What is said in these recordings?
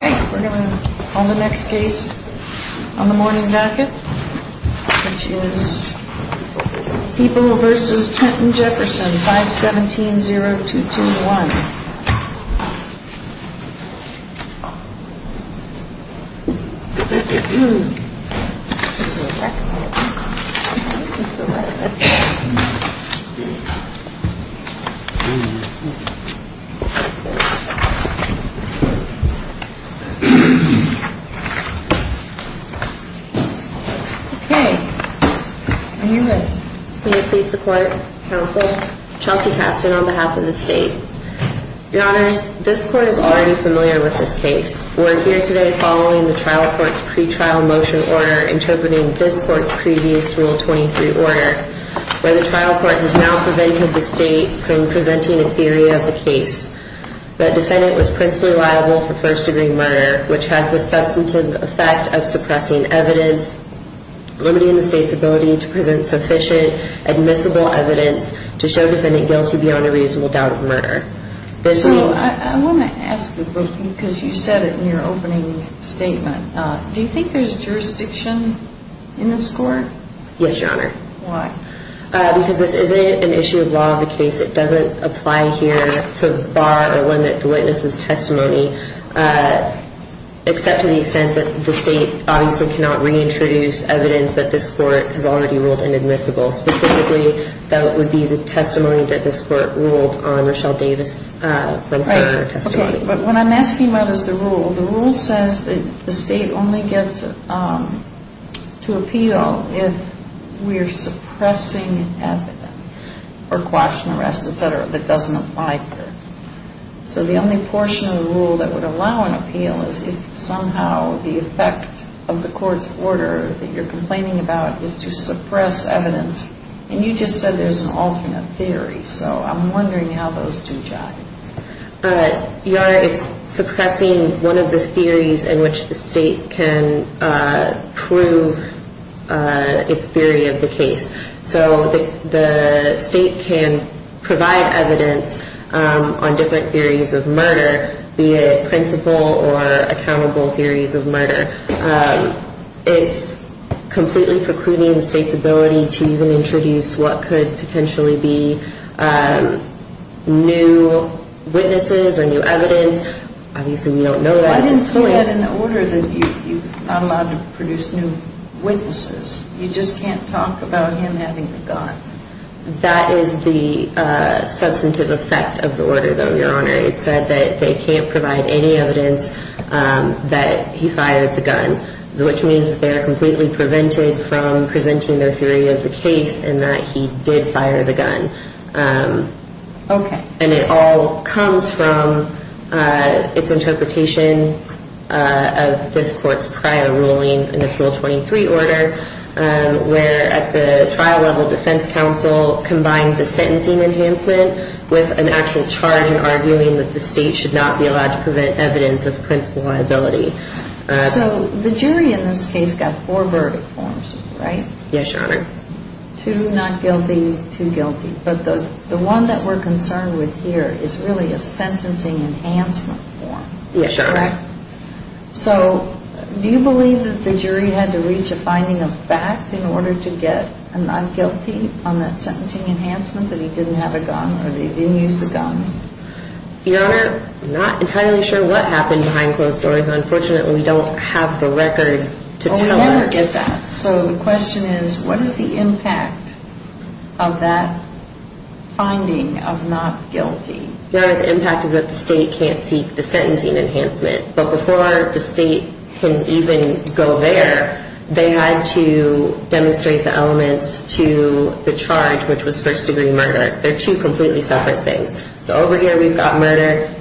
We're going to call the next case on the morning bracket, which is People v. Trenton Jefferson, 517-0221. May it please the court, counsel, Chelsea Caston on behalf of the state. Your honors, this court is already familiar with this case. We're here today following the trial court's pre-trial motion order interpreting this court's previous Rule 23 order, where the trial court has now prevented the state from presenting a theory of the case. The defendant was principally liable for first-degree murder, which has the substantive effect of suppressing evidence, limiting the state's ability to present sufficient admissible evidence to show the defendant guilty beyond a reasonable doubt of murder. So I want to ask you, because you said it in your opening statement, do you think there's jurisdiction in this court? Yes, your honor. Why? Because this isn't an issue of law of the case. It doesn't apply here to bar or limit the witness's testimony, except to the extent that the state obviously cannot reintroduce evidence that this court has already ruled inadmissible. Specifically, that would be the testimony that this court ruled on Rochelle Davis from her testimony. Okay, but what I'm asking about is the rule. The rule says that the state only gets to appeal if we're suppressing evidence or quash and arrest, et cetera, that doesn't apply here. So the only portion of the rule that would allow an appeal is if somehow the effect of the court's order that you're complaining about is to suppress evidence, and you just said there's an alternate theory. So I'm wondering how those two jive. Your honor, it's suppressing one of the theories in which the state can prove its theory of the case. So the state can provide evidence on different theories of murder, be it principal or accountable theories of murder. It's completely precluding the state's ability to even introduce what could potentially be new witnesses or new evidence. Obviously, we don't know that. I didn't see that in the order that you're not allowed to produce new witnesses. You just can't talk about him having a gun. That is the substantive effect of the order, though, your honor. It said that they can't provide any evidence that he fired the gun, which means that they are completely prevented from presenting their theory of the case and that he did fire the gun. Okay. And it all comes from its interpretation of this court's prior ruling in its Rule 23 order, where at the trial level defense counsel combined the sentencing enhancement with an actual charge and arguing that the state should not be allowed to prevent evidence of principal liability. So the jury in this case got four verdict forms, right? Yes, your honor. Two not guilty, two guilty. But the one that we're concerned with here is really a sentencing enhancement form. Yes, your honor. So do you believe that the jury had to reach a finding of fact in order to get a not guilty on that sentencing enhancement, that he didn't have a gun or that he didn't use the gun? Your honor, I'm not entirely sure what happened behind closed doors. Unfortunately, we don't have the record to tell us. We want to get that. So the question is, what is the impact of that finding of not guilty? Your honor, the impact is that the state can't seek the sentencing enhancement. But before the state can even go there, they had to demonstrate the elements to the charge, which was first-degree murder. They're two completely separate things. So over here we've got murder.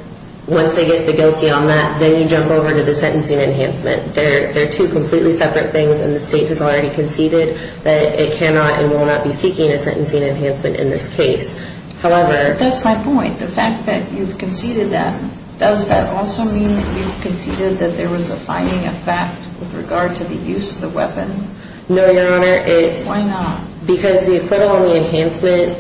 Once they get the guilty on that, then you jump over to the sentencing enhancement. They're two completely separate things, and the state has already conceded that it cannot and will not be seeking a sentencing enhancement in this case. That's my point. The fact that you've conceded that, does that also mean that you've conceded that there was a finding of fact with regard to the use of the weapon? No, your honor. Why not? Because the acquittal and the enhancement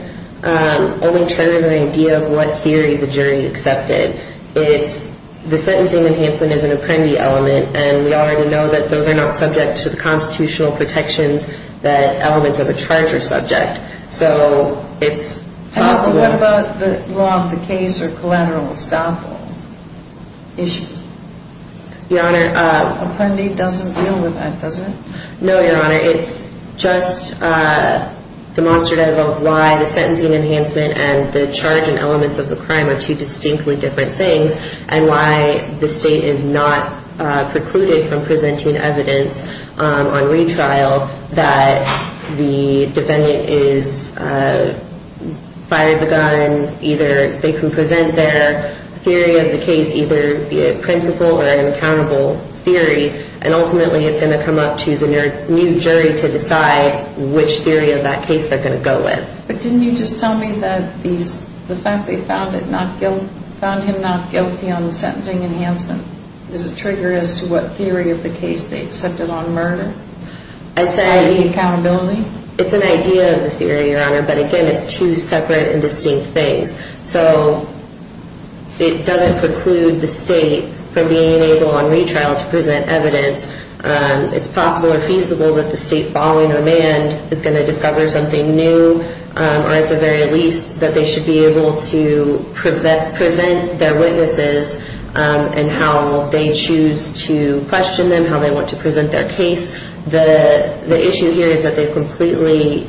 only triggers an idea of what theory the jury accepted. The sentencing enhancement is an appendi element, and we already know that those are not subject to the constitutional protections that elements of a charge are subject. So it's possible. What about the law of the case or collateral estoppel issues? Your honor. Appendi doesn't deal with that, does it? No, your honor. It's just demonstrative of why the sentencing enhancement and the charge and elements of the crime are two distinctly different things and why the state is not precluded from presenting evidence on retrial that the defendant is fired the gun, either they can present their theory of the case, either via principal or an accountable theory, and ultimately it's going to come up to the new jury to decide which theory of that case they're going to go with. But didn't you just tell me that the fact they found him not guilty on the sentencing enhancement, does it trigger as to what theory of the case they accepted on murder? I said the accountability? It's an idea of the theory, your honor, but again, it's two separate and distinct things. So it doesn't preclude the state from being able on retrial to present evidence. It's possible or feasible that the state following Ormand is going to discover something new, or at the very least that they should be able to present their witnesses and how they choose to question them, and how they want to present their case. The issue here is that they've completely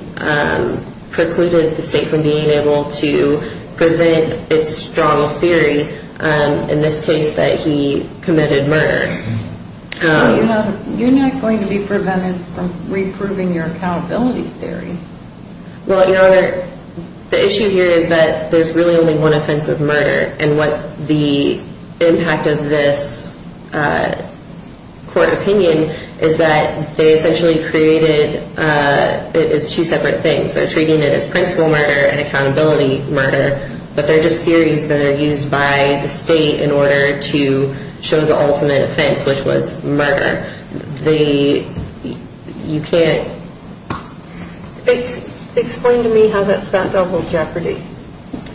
precluded the state from being able to present its strong theory, in this case that he committed murder. You're not going to be prevented from reproving your accountability theory. Well, your honor, the issue here is that there's really only one offense of murder, and what the impact of this court opinion is that they essentially created it as two separate things. They're treating it as principal murder and accountability murder, but they're just theories that are used by the state in order to show the ultimate offense, which was murder. You can't... Explain to me how that's not double jeopardy.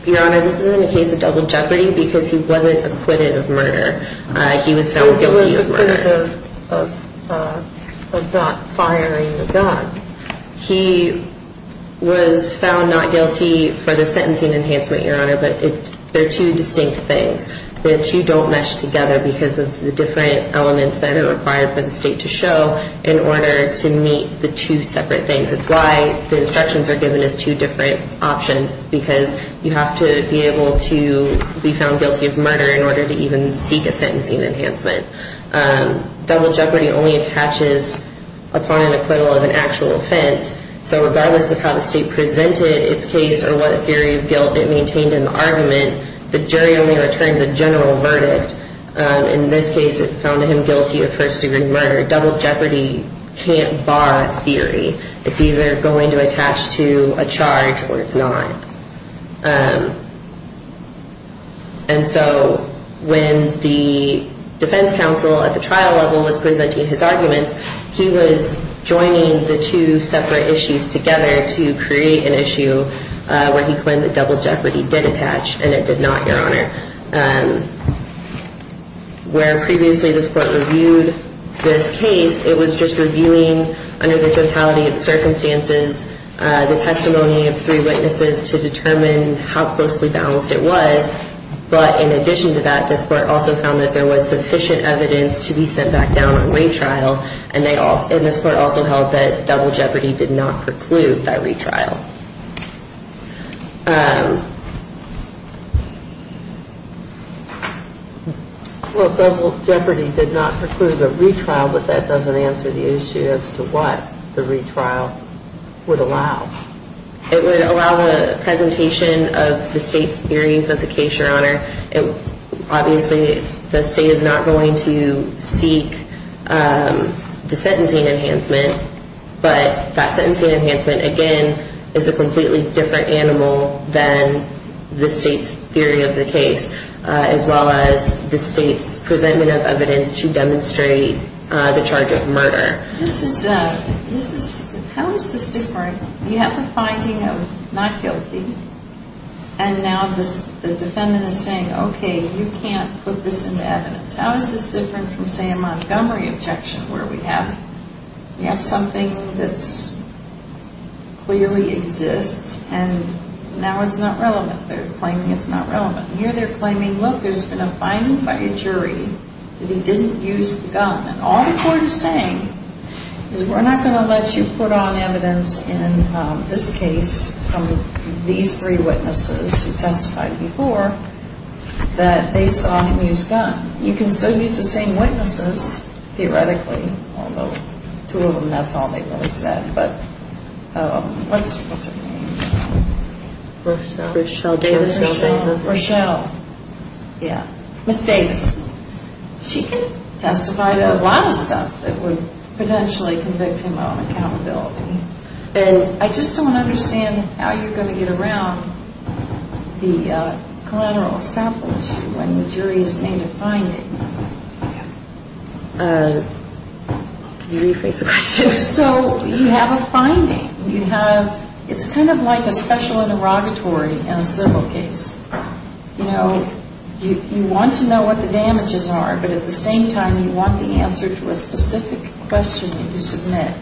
Your honor, this isn't a case of double jeopardy because he wasn't acquitted of murder. He was found guilty of murder. He was acquitted of not firing a gun. He was found not guilty for the sentencing enhancement, your honor, but they're two distinct things. The two don't mesh together because of the different elements that are required for the state to show in order to meet the two separate things. It's why the instructions are given as two different options because you have to be able to be found guilty of murder in order to even seek a sentencing enhancement. Double jeopardy only attaches upon an acquittal of an actual offense, so regardless of how the state presented its case or what theory of guilt it maintained in the argument, the jury only returns a general verdict. In this case, it found him guilty of first-degree murder. Double jeopardy can't bar theory. It's either going to attach to a charge or it's not. And so when the defense counsel at the trial level was presenting his arguments, he was joining the two separate issues together to create an issue where he claimed that double jeopardy did attach, and it did not, your honor. Where previously this court reviewed this case, it was just reviewing under the totality of circumstances the testimony of three witnesses to determine how closely balanced it was, but in addition to that, this court also found that there was sufficient evidence to be sent back down on retrial, and this court also held that double jeopardy did not preclude that retrial. Well, double jeopardy did not preclude a retrial, but that doesn't answer the issue as to what the retrial would allow. It would allow the presentation of the state's theories of the case, your honor. Obviously, the state is not going to seek the sentencing enhancement, but that sentencing enhancement, again, is a completely different animal than the state's theory of the case, as well as the state's presentment of evidence to demonstrate the charge of murder. This is a, this is, how is this different? You have a finding of not guilty, and now the defendant is saying, okay, you can't put this into evidence. How is this different from, say, a Montgomery objection where we have, we have something that clearly exists, and now it's not relevant. They're claiming it's not relevant. Here they're claiming, look, there's been a finding by a jury that he didn't use the gun, and all the court is saying is we're not going to let you put on evidence in this case from these three witnesses who testified before that they saw him use a gun. You can still use the same witnesses, theoretically, although two of them, that's all they've ever said, but what's her name? Rochelle. Rochelle Davis. Rochelle. Rochelle. Yeah. Ms. Davis. She can testify to a lot of stuff that would potentially convict him of accountability. I just don't understand how you're going to get around the collateral establishment issue when the jury has made a finding. Can you rephrase the question? So you have a finding. You have, it's kind of like a special interrogatory in a civil case. You know, you want to know what the damages are, but at the same time you want the answer to a specific question that you submit.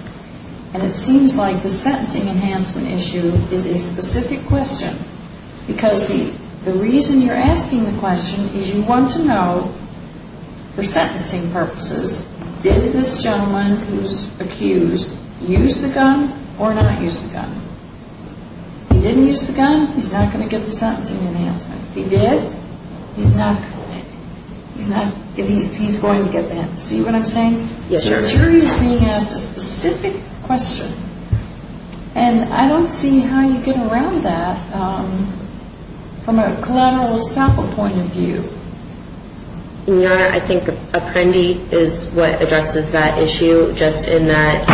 And it seems like the sentencing enhancement issue is a specific question because the reason you're asking the question is you want to know, for sentencing purposes, did this gentleman who's accused use the gun or not use the gun? If he didn't use the gun, he's not going to get the sentencing enhancement. If he did, he's not going to get it. He's going to get that. See what I'm saying? Yes, ma'am. So the jury is being asked a specific question, and I don't see how you get around that from a collateral establishment point of view. Your Honor, I think Apprendi is what addresses that issue just in that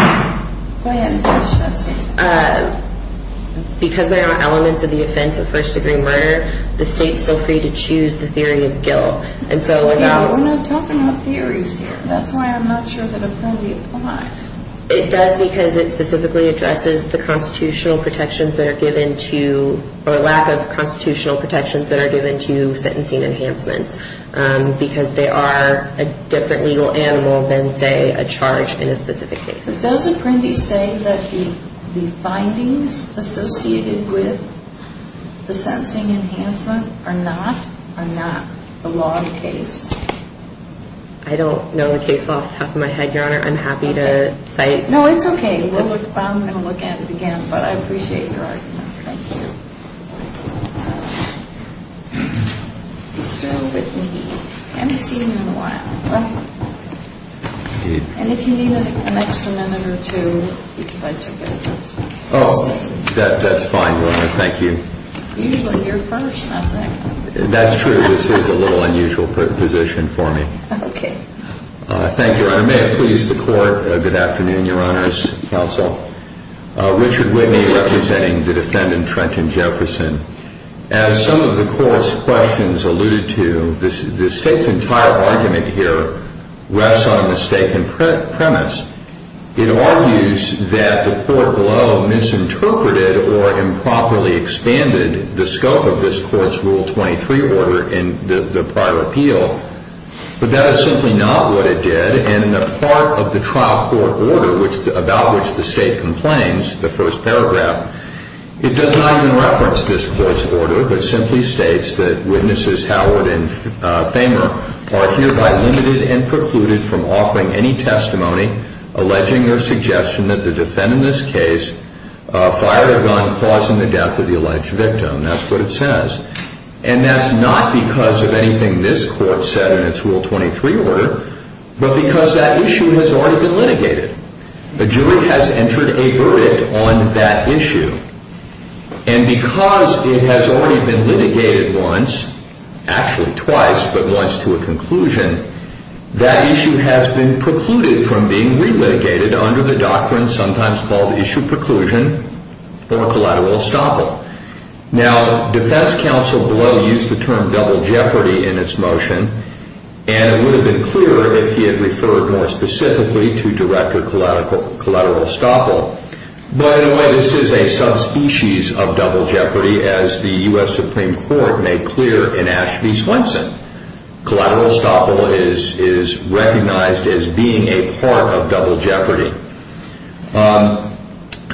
because there are elements of the offense of first-degree murder, the state's still free to choose the theory of guilt. We're not talking about theories here. That's why I'm not sure that Apprendi applies. It does because it specifically addresses the constitutional protections that are given to or lack of constitutional protections that are given to sentencing enhancements because they are a different legal animal than, say, a charge in a specific case. But does Apprendi say that the findings associated with the sentencing enhancement are not the law of the case? I don't know the case law off the top of my head, Your Honor. I'm happy to cite. No, it's okay. I'm going to look at it again, but I appreciate your arguments. Thank you. Mr. Whitney. I haven't seen you in a while. And if you need an extra minute or two, because I took it. Oh, that's fine, Your Honor. Thank you. Usually you're first, not second. That's true. This is a little unusual position for me. Okay. Thank you, Your Honor. May it please the Court. Good afternoon, Your Honor's counsel. Richard Whitney representing the defendant, Trenton Jefferson. As some of the Court's questions alluded to, the State's entire argument here rests on a mistaken premise. It argues that the Court below misinterpreted or improperly expanded the scope of this Court's Rule 23 order in the prior appeal. But that is simply not what it did, and in the part of the trial court order about which the State complains, the first paragraph, it does not even reference this Court's order, but simply states that witnesses Howard and Famer are hereby limited and precluded from offering any testimony alleging their suggestion that the defendant in this case fired a gun causing the death of the alleged victim. That's what it says. And that's not because of anything this Court said in its Rule 23 order, but because that issue has already been litigated. A jury has entered a verdict on that issue. And because it has already been litigated once, actually twice, but once to a conclusion, that issue has been precluded from being re-litigated under the doctrine sometimes called issue preclusion or collateral estoppel. Now, defense counsel below used the term double jeopardy in its motion, and it would have been clearer if he had referred more specifically to director collateral estoppel. But in a way, this is a subspecies of double jeopardy, as the U.S. Supreme Court made clear in Ashby-Swenson. Collateral estoppel is recognized as being a part of double jeopardy.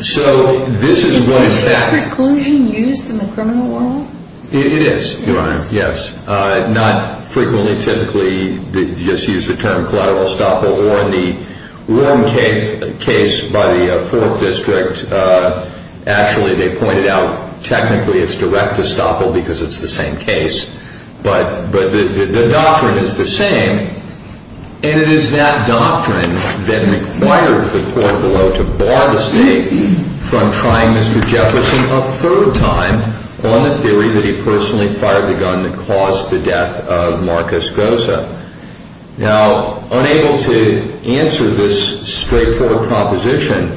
So this is what it says. Is issue preclusion used in the criminal world? It is, Your Honor, yes. Not frequently, typically, you just use the term collateral estoppel. Or in the Warren case by the Fourth District, actually they pointed out technically it's direct estoppel because it's the same case. But the doctrine is the same. And it is that doctrine that required the court below to bar the State from trying Mr. Jefferson a third time on the theory that he personally fired the gun that caused the death of Marcus Goza. Now, unable to answer this straightforward proposition,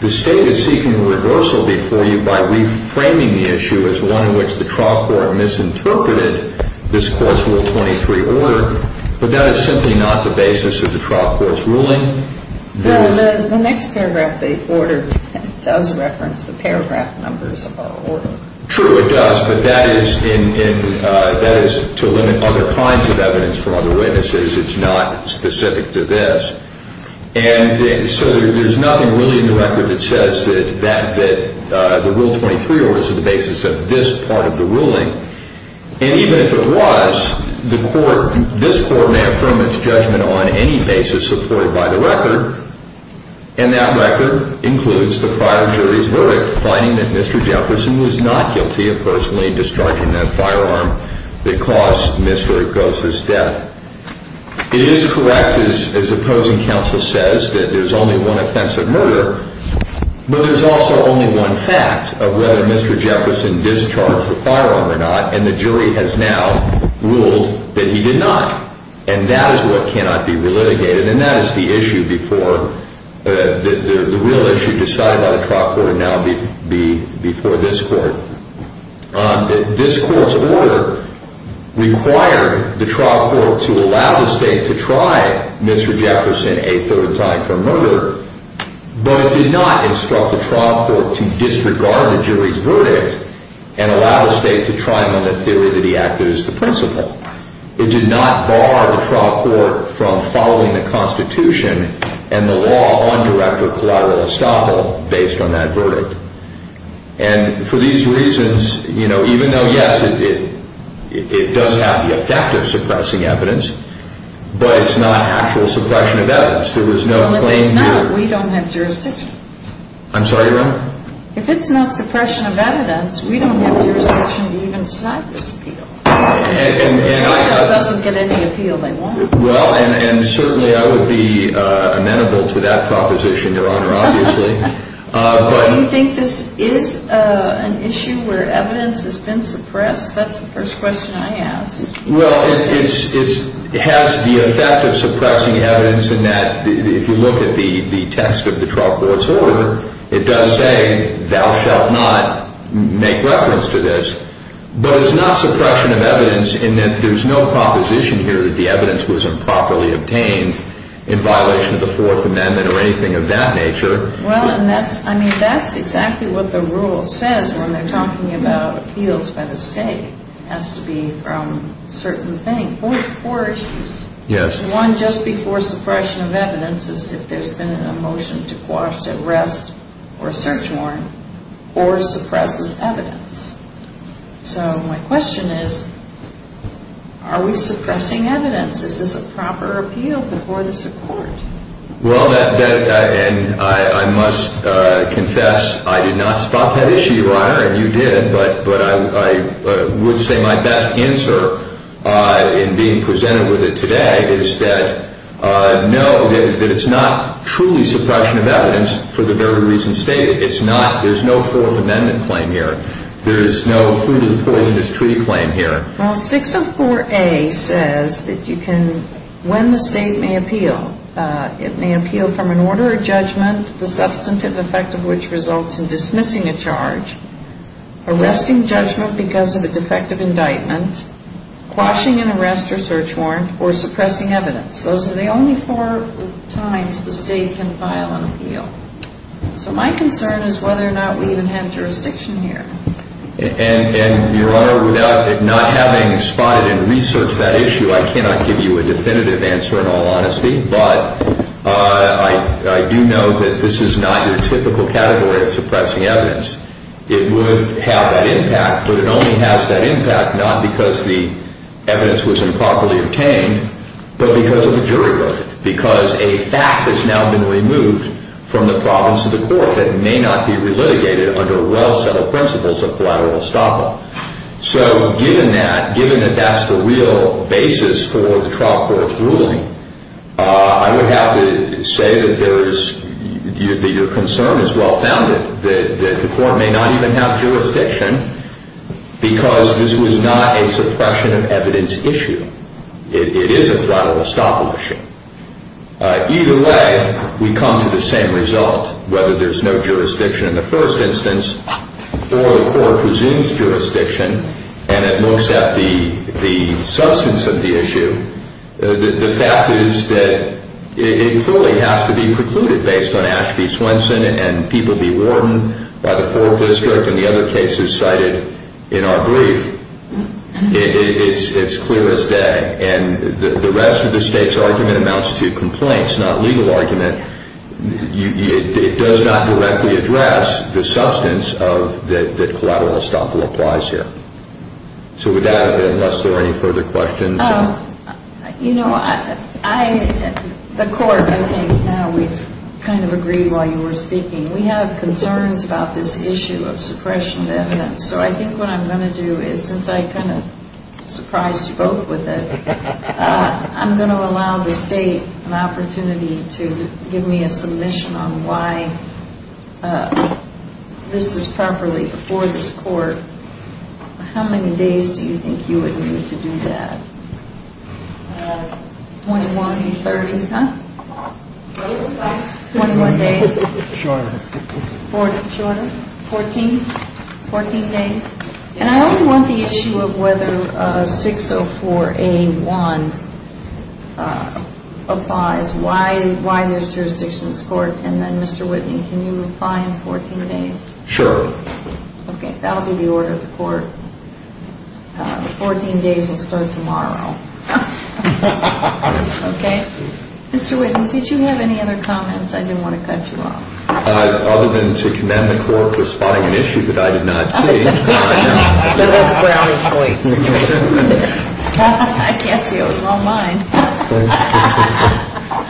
the State is seeking a reversal before you by reframing the issue as one in which the trial court misinterpreted this Court's Rule 23 order. But that is simply not the basis of the trial court's ruling. Well, the next paragraph of the order does reference the paragraph numbers of our order. True, it does. But that is to limit other kinds of evidence from other witnesses. It's not specific to this. And so there's nothing really in the record that says that the Rule 23 order is the basis of this part of the ruling. And even if it was, this Court may affirm its judgment on any basis supported by the record. And that record includes the prior jury's verdict, finding that Mr. Jefferson was not guilty of personally discharging that firearm that caused Mr. Goza's death. It is correct, as opposing counsel says, that there's only one offensive murder. But there's also only one fact of whether Mr. Jefferson discharged the firearm or not. And the jury has now ruled that he did not. And that is what cannot be relitigated. And that is the real issue decided by the trial court now before this Court. This Court's order required the trial court to allow the State to try Mr. Jefferson a third time for murder, but did not instruct the trial court to disregard the jury's verdict and allow the State to try him on the theory that he acted as the principal. It did not bar the trial court from following the Constitution and the law on direct or collateral estoppel based on that verdict. And for these reasons, you know, even though, yes, it does have the effect of suppressing evidence, but it's not actual suppression of evidence. There was no claim here. Well, if it's not, we don't have jurisdiction. I'm sorry, Your Honor? If it's not suppression of evidence, we don't have jurisdiction to even decide this appeal. The State just doesn't get any appeal they want. Well, and certainly I would be amenable to that proposition, Your Honor, obviously. Do you think this is an issue where evidence has been suppressed? That's the first question I ask. Well, it has the effect of suppressing evidence in that if you look at the text of the trial court's order, it does say, thou shalt not make reference to this. But it's not suppression of evidence in that there's no proposition here that the evidence was improperly obtained in violation of the Fourth Amendment or anything of that nature. Well, and that's, I mean, that's exactly what the rule says when they're talking about appeals by the State. It has to be from a certain thing. Four issues. Yes. One just before suppression of evidence is if there's been a motion to quash, arrest, or search warrant, or suppress this evidence. So my question is, are we suppressing evidence? Is this a proper appeal before the Supreme Court? Well, and I must confess I did not spot that issue, Your Honor, and you did. But I would say my best answer in being presented with it today is that, no, that it's not truly suppression of evidence for the very reason stated. It's not. There's no Fourth Amendment claim here. There's no Food of the Poisonous Treaty claim here. Well, 604A says that you can, when the State may appeal, it may appeal from an order of judgment, the substantive effect of which results in dismissing a charge, arresting judgment because of a defective indictment, quashing an arrest or search warrant, or suppressing evidence. Those are the only four times the State can file an appeal. So my concern is whether or not we even have jurisdiction here. And, Your Honor, without not having spotted and researched that issue, I cannot give you a definitive answer in all honesty. But I do know that this is not your typical category of suppressing evidence. It would have that impact, but it only has that impact not because the evidence was improperly obtained, but because of a jury verdict, because a fact has now been removed from the province of the court that may not be relitigated under well-settled principles of collateral estoppel. So given that, given that that's the real basis for the trial court's ruling, I would have to say that your concern is well-founded, that the court may not even have jurisdiction because this was not a suppression of evidence issue. It is a collateral estoppel issue. Either way, we come to the same result, whether there's no jurisdiction in the first instance or the court resumes jurisdiction and it looks at the substance of the issue. The fact is that it clearly has to be precluded based on Ashby, Swenson, and Peabody, Wharton by the 4th District and the other cases cited in our brief. It's clear as day. And the rest of the State's argument amounts to complaints, not legal argument. It does not directly address the substance that collateral estoppel applies here. So with that, unless there are any further questions. You know, the court, I think now we've kind of agreed while you were speaking, we have concerns about this issue of suppression of evidence. So I think what I'm going to do is, since I kind of surprised you both with it, I'm going to allow the State an opportunity to give me a submission on why this is properly before this court. How many days do you think you would need to do that? 21 or 30? Huh? 21 days. Shorter. Shorter? 14? 14 days? And I only want the issue of whether 604A1 applies, why there's jurisdiction in this court. And then, Mr. Whitney, can you reply in 14 days? Sure. Okay. That will be the order of the court. The 14 days will start tomorrow. Okay? Mr. Whitney, did you have any other comments? I didn't want to cut you off. Other than to commend the court for spotting an issue that I did not see. That was a brownie point. I can't see it. It was all mine.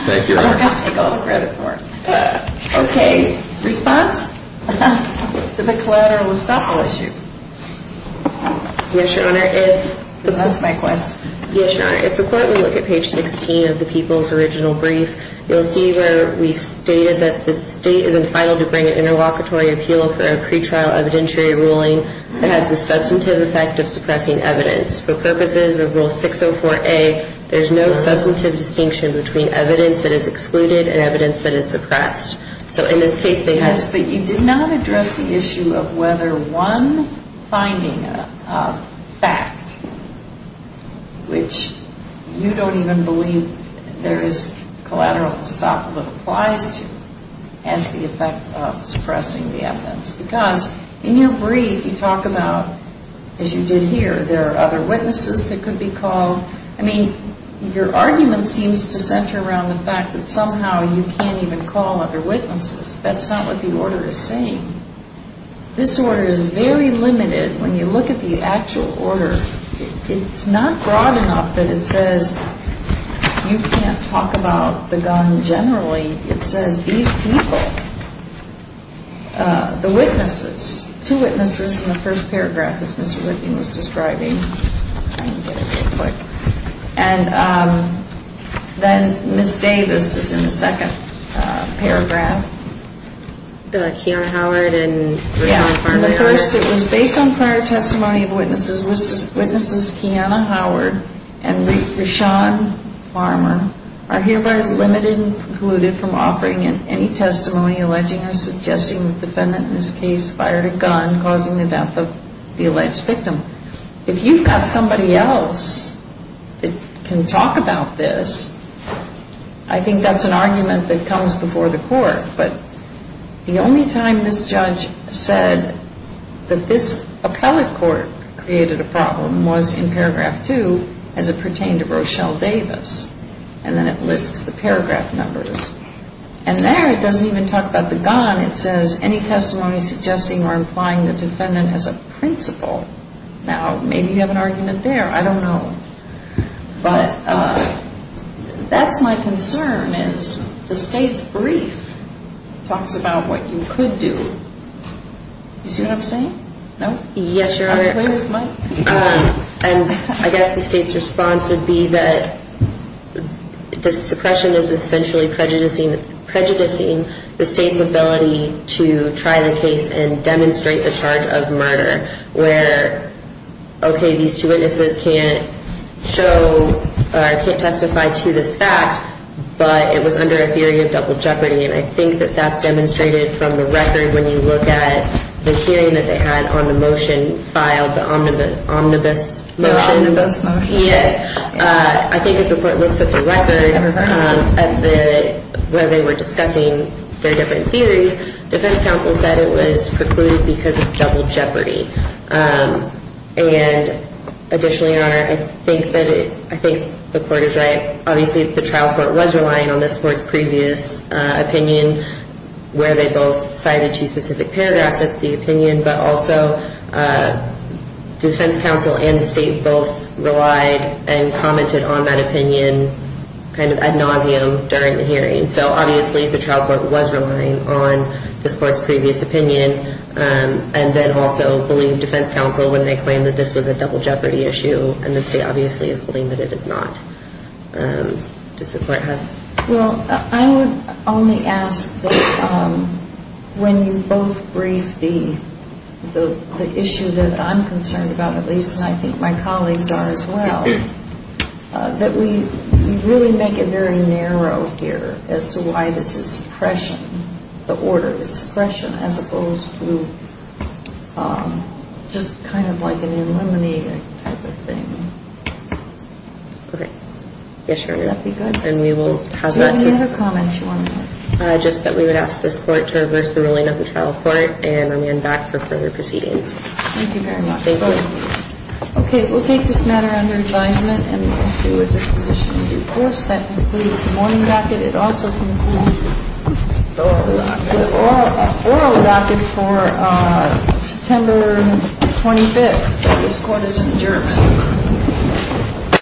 Thank you, Your Honor. I'm going to take all the credit for it. Okay. Response? Is it a collateral estoppel issue? Yes, Your Honor. Because that's my question. Yes, Your Honor. If the court will look at page 16 of the People's Original Brief, you'll see where we stated that the state is entitled to bring an interlocutory appeal for a pretrial evidentiary ruling that has the substantive effect of suppressing evidence. For purposes of Rule 604A, there's no substantive distinction between evidence that is excluded and evidence that is suppressed. So in this case, they have... Yes, but you did not address the issue of whether one finding of fact, which you don't even believe there is collateral estoppel that applies to, has the effect of suppressing the evidence. Because in your brief, you talk about, as you did here, there are other witnesses that could be called. I mean, your argument seems to center around the fact that somehow you can't even call other witnesses. That's not what the order is saying. This order is very limited when you look at the actual order. It's not broad enough that it says you can't talk about the gun generally. It says these people, the witnesses, two witnesses in the first paragraph, as Mr. Whitney was describing. And then Ms. Davis is in the second paragraph. Kiana Howard and Rishon Farmer. In the first, it was based on prior testimony of witnesses. Witnesses Kiana Howard and Rishon Farmer are hereby limited and precluded from offering any testimony alleging or suggesting the defendant in this case fired a gun causing the death of the alleged victim. If you've got somebody else that can talk about this, I think that's an argument that comes before the court. But the only time this judge said that this appellate court created a problem was in paragraph two as it pertained to Rochelle Davis. And then it lists the paragraph numbers. And there it doesn't even talk about the gun. It says any testimony suggesting or implying the defendant has a principle. Now, maybe you have an argument there. I don't know. But that's my concern is the state's brief talks about what you could do. You see what I'm saying? No? Yes, Your Honor. And I guess the state's response would be that the suppression is essentially prejudicing the state's ability to try the case and demonstrate the charge of murder where, okay, these two witnesses can't show or can't testify to this fact, but it was under a theory of double jeopardy. And I think that that's demonstrated from the record when you look at the hearing that they had on the motion filed, the omnibus motion. The omnibus motion. Yes. I think if the court looks at the record where they were discussing their different theories, defense counsel said it was precluded because of double jeopardy. And additionally, Your Honor, I think the court is right. Obviously, the trial court was relying on this court's previous opinion where they both cited two specific paragraphs of the opinion, but also defense counsel and the state both relied and commented on that opinion kind of ad nauseum during the hearing. So obviously the trial court was relying on this court's previous opinion and then also believed defense counsel when they claimed that this was a double jeopardy issue and the state obviously is believing that it is not. Does the court have? Well, I would only ask that when you both brief the issue that I'm concerned about, at least, and I think my colleagues are as well, that we really make it very narrow here as to why this is suppression, the order is suppression as opposed to just kind of like an eliminating type of thing. Okay. Yes, Your Honor. Would that be good? And we will have that. Do you have any other comments you want to make? Just that we would ask this court to reverse the ruling of the trial court and I'm back for further proceedings. Thank you very much. Thank you. Okay. We'll take this matter under advisement and we'll do a disposition in due course. That concludes the morning docket. It also concludes the oral docket for September 25th. This court is adjourned.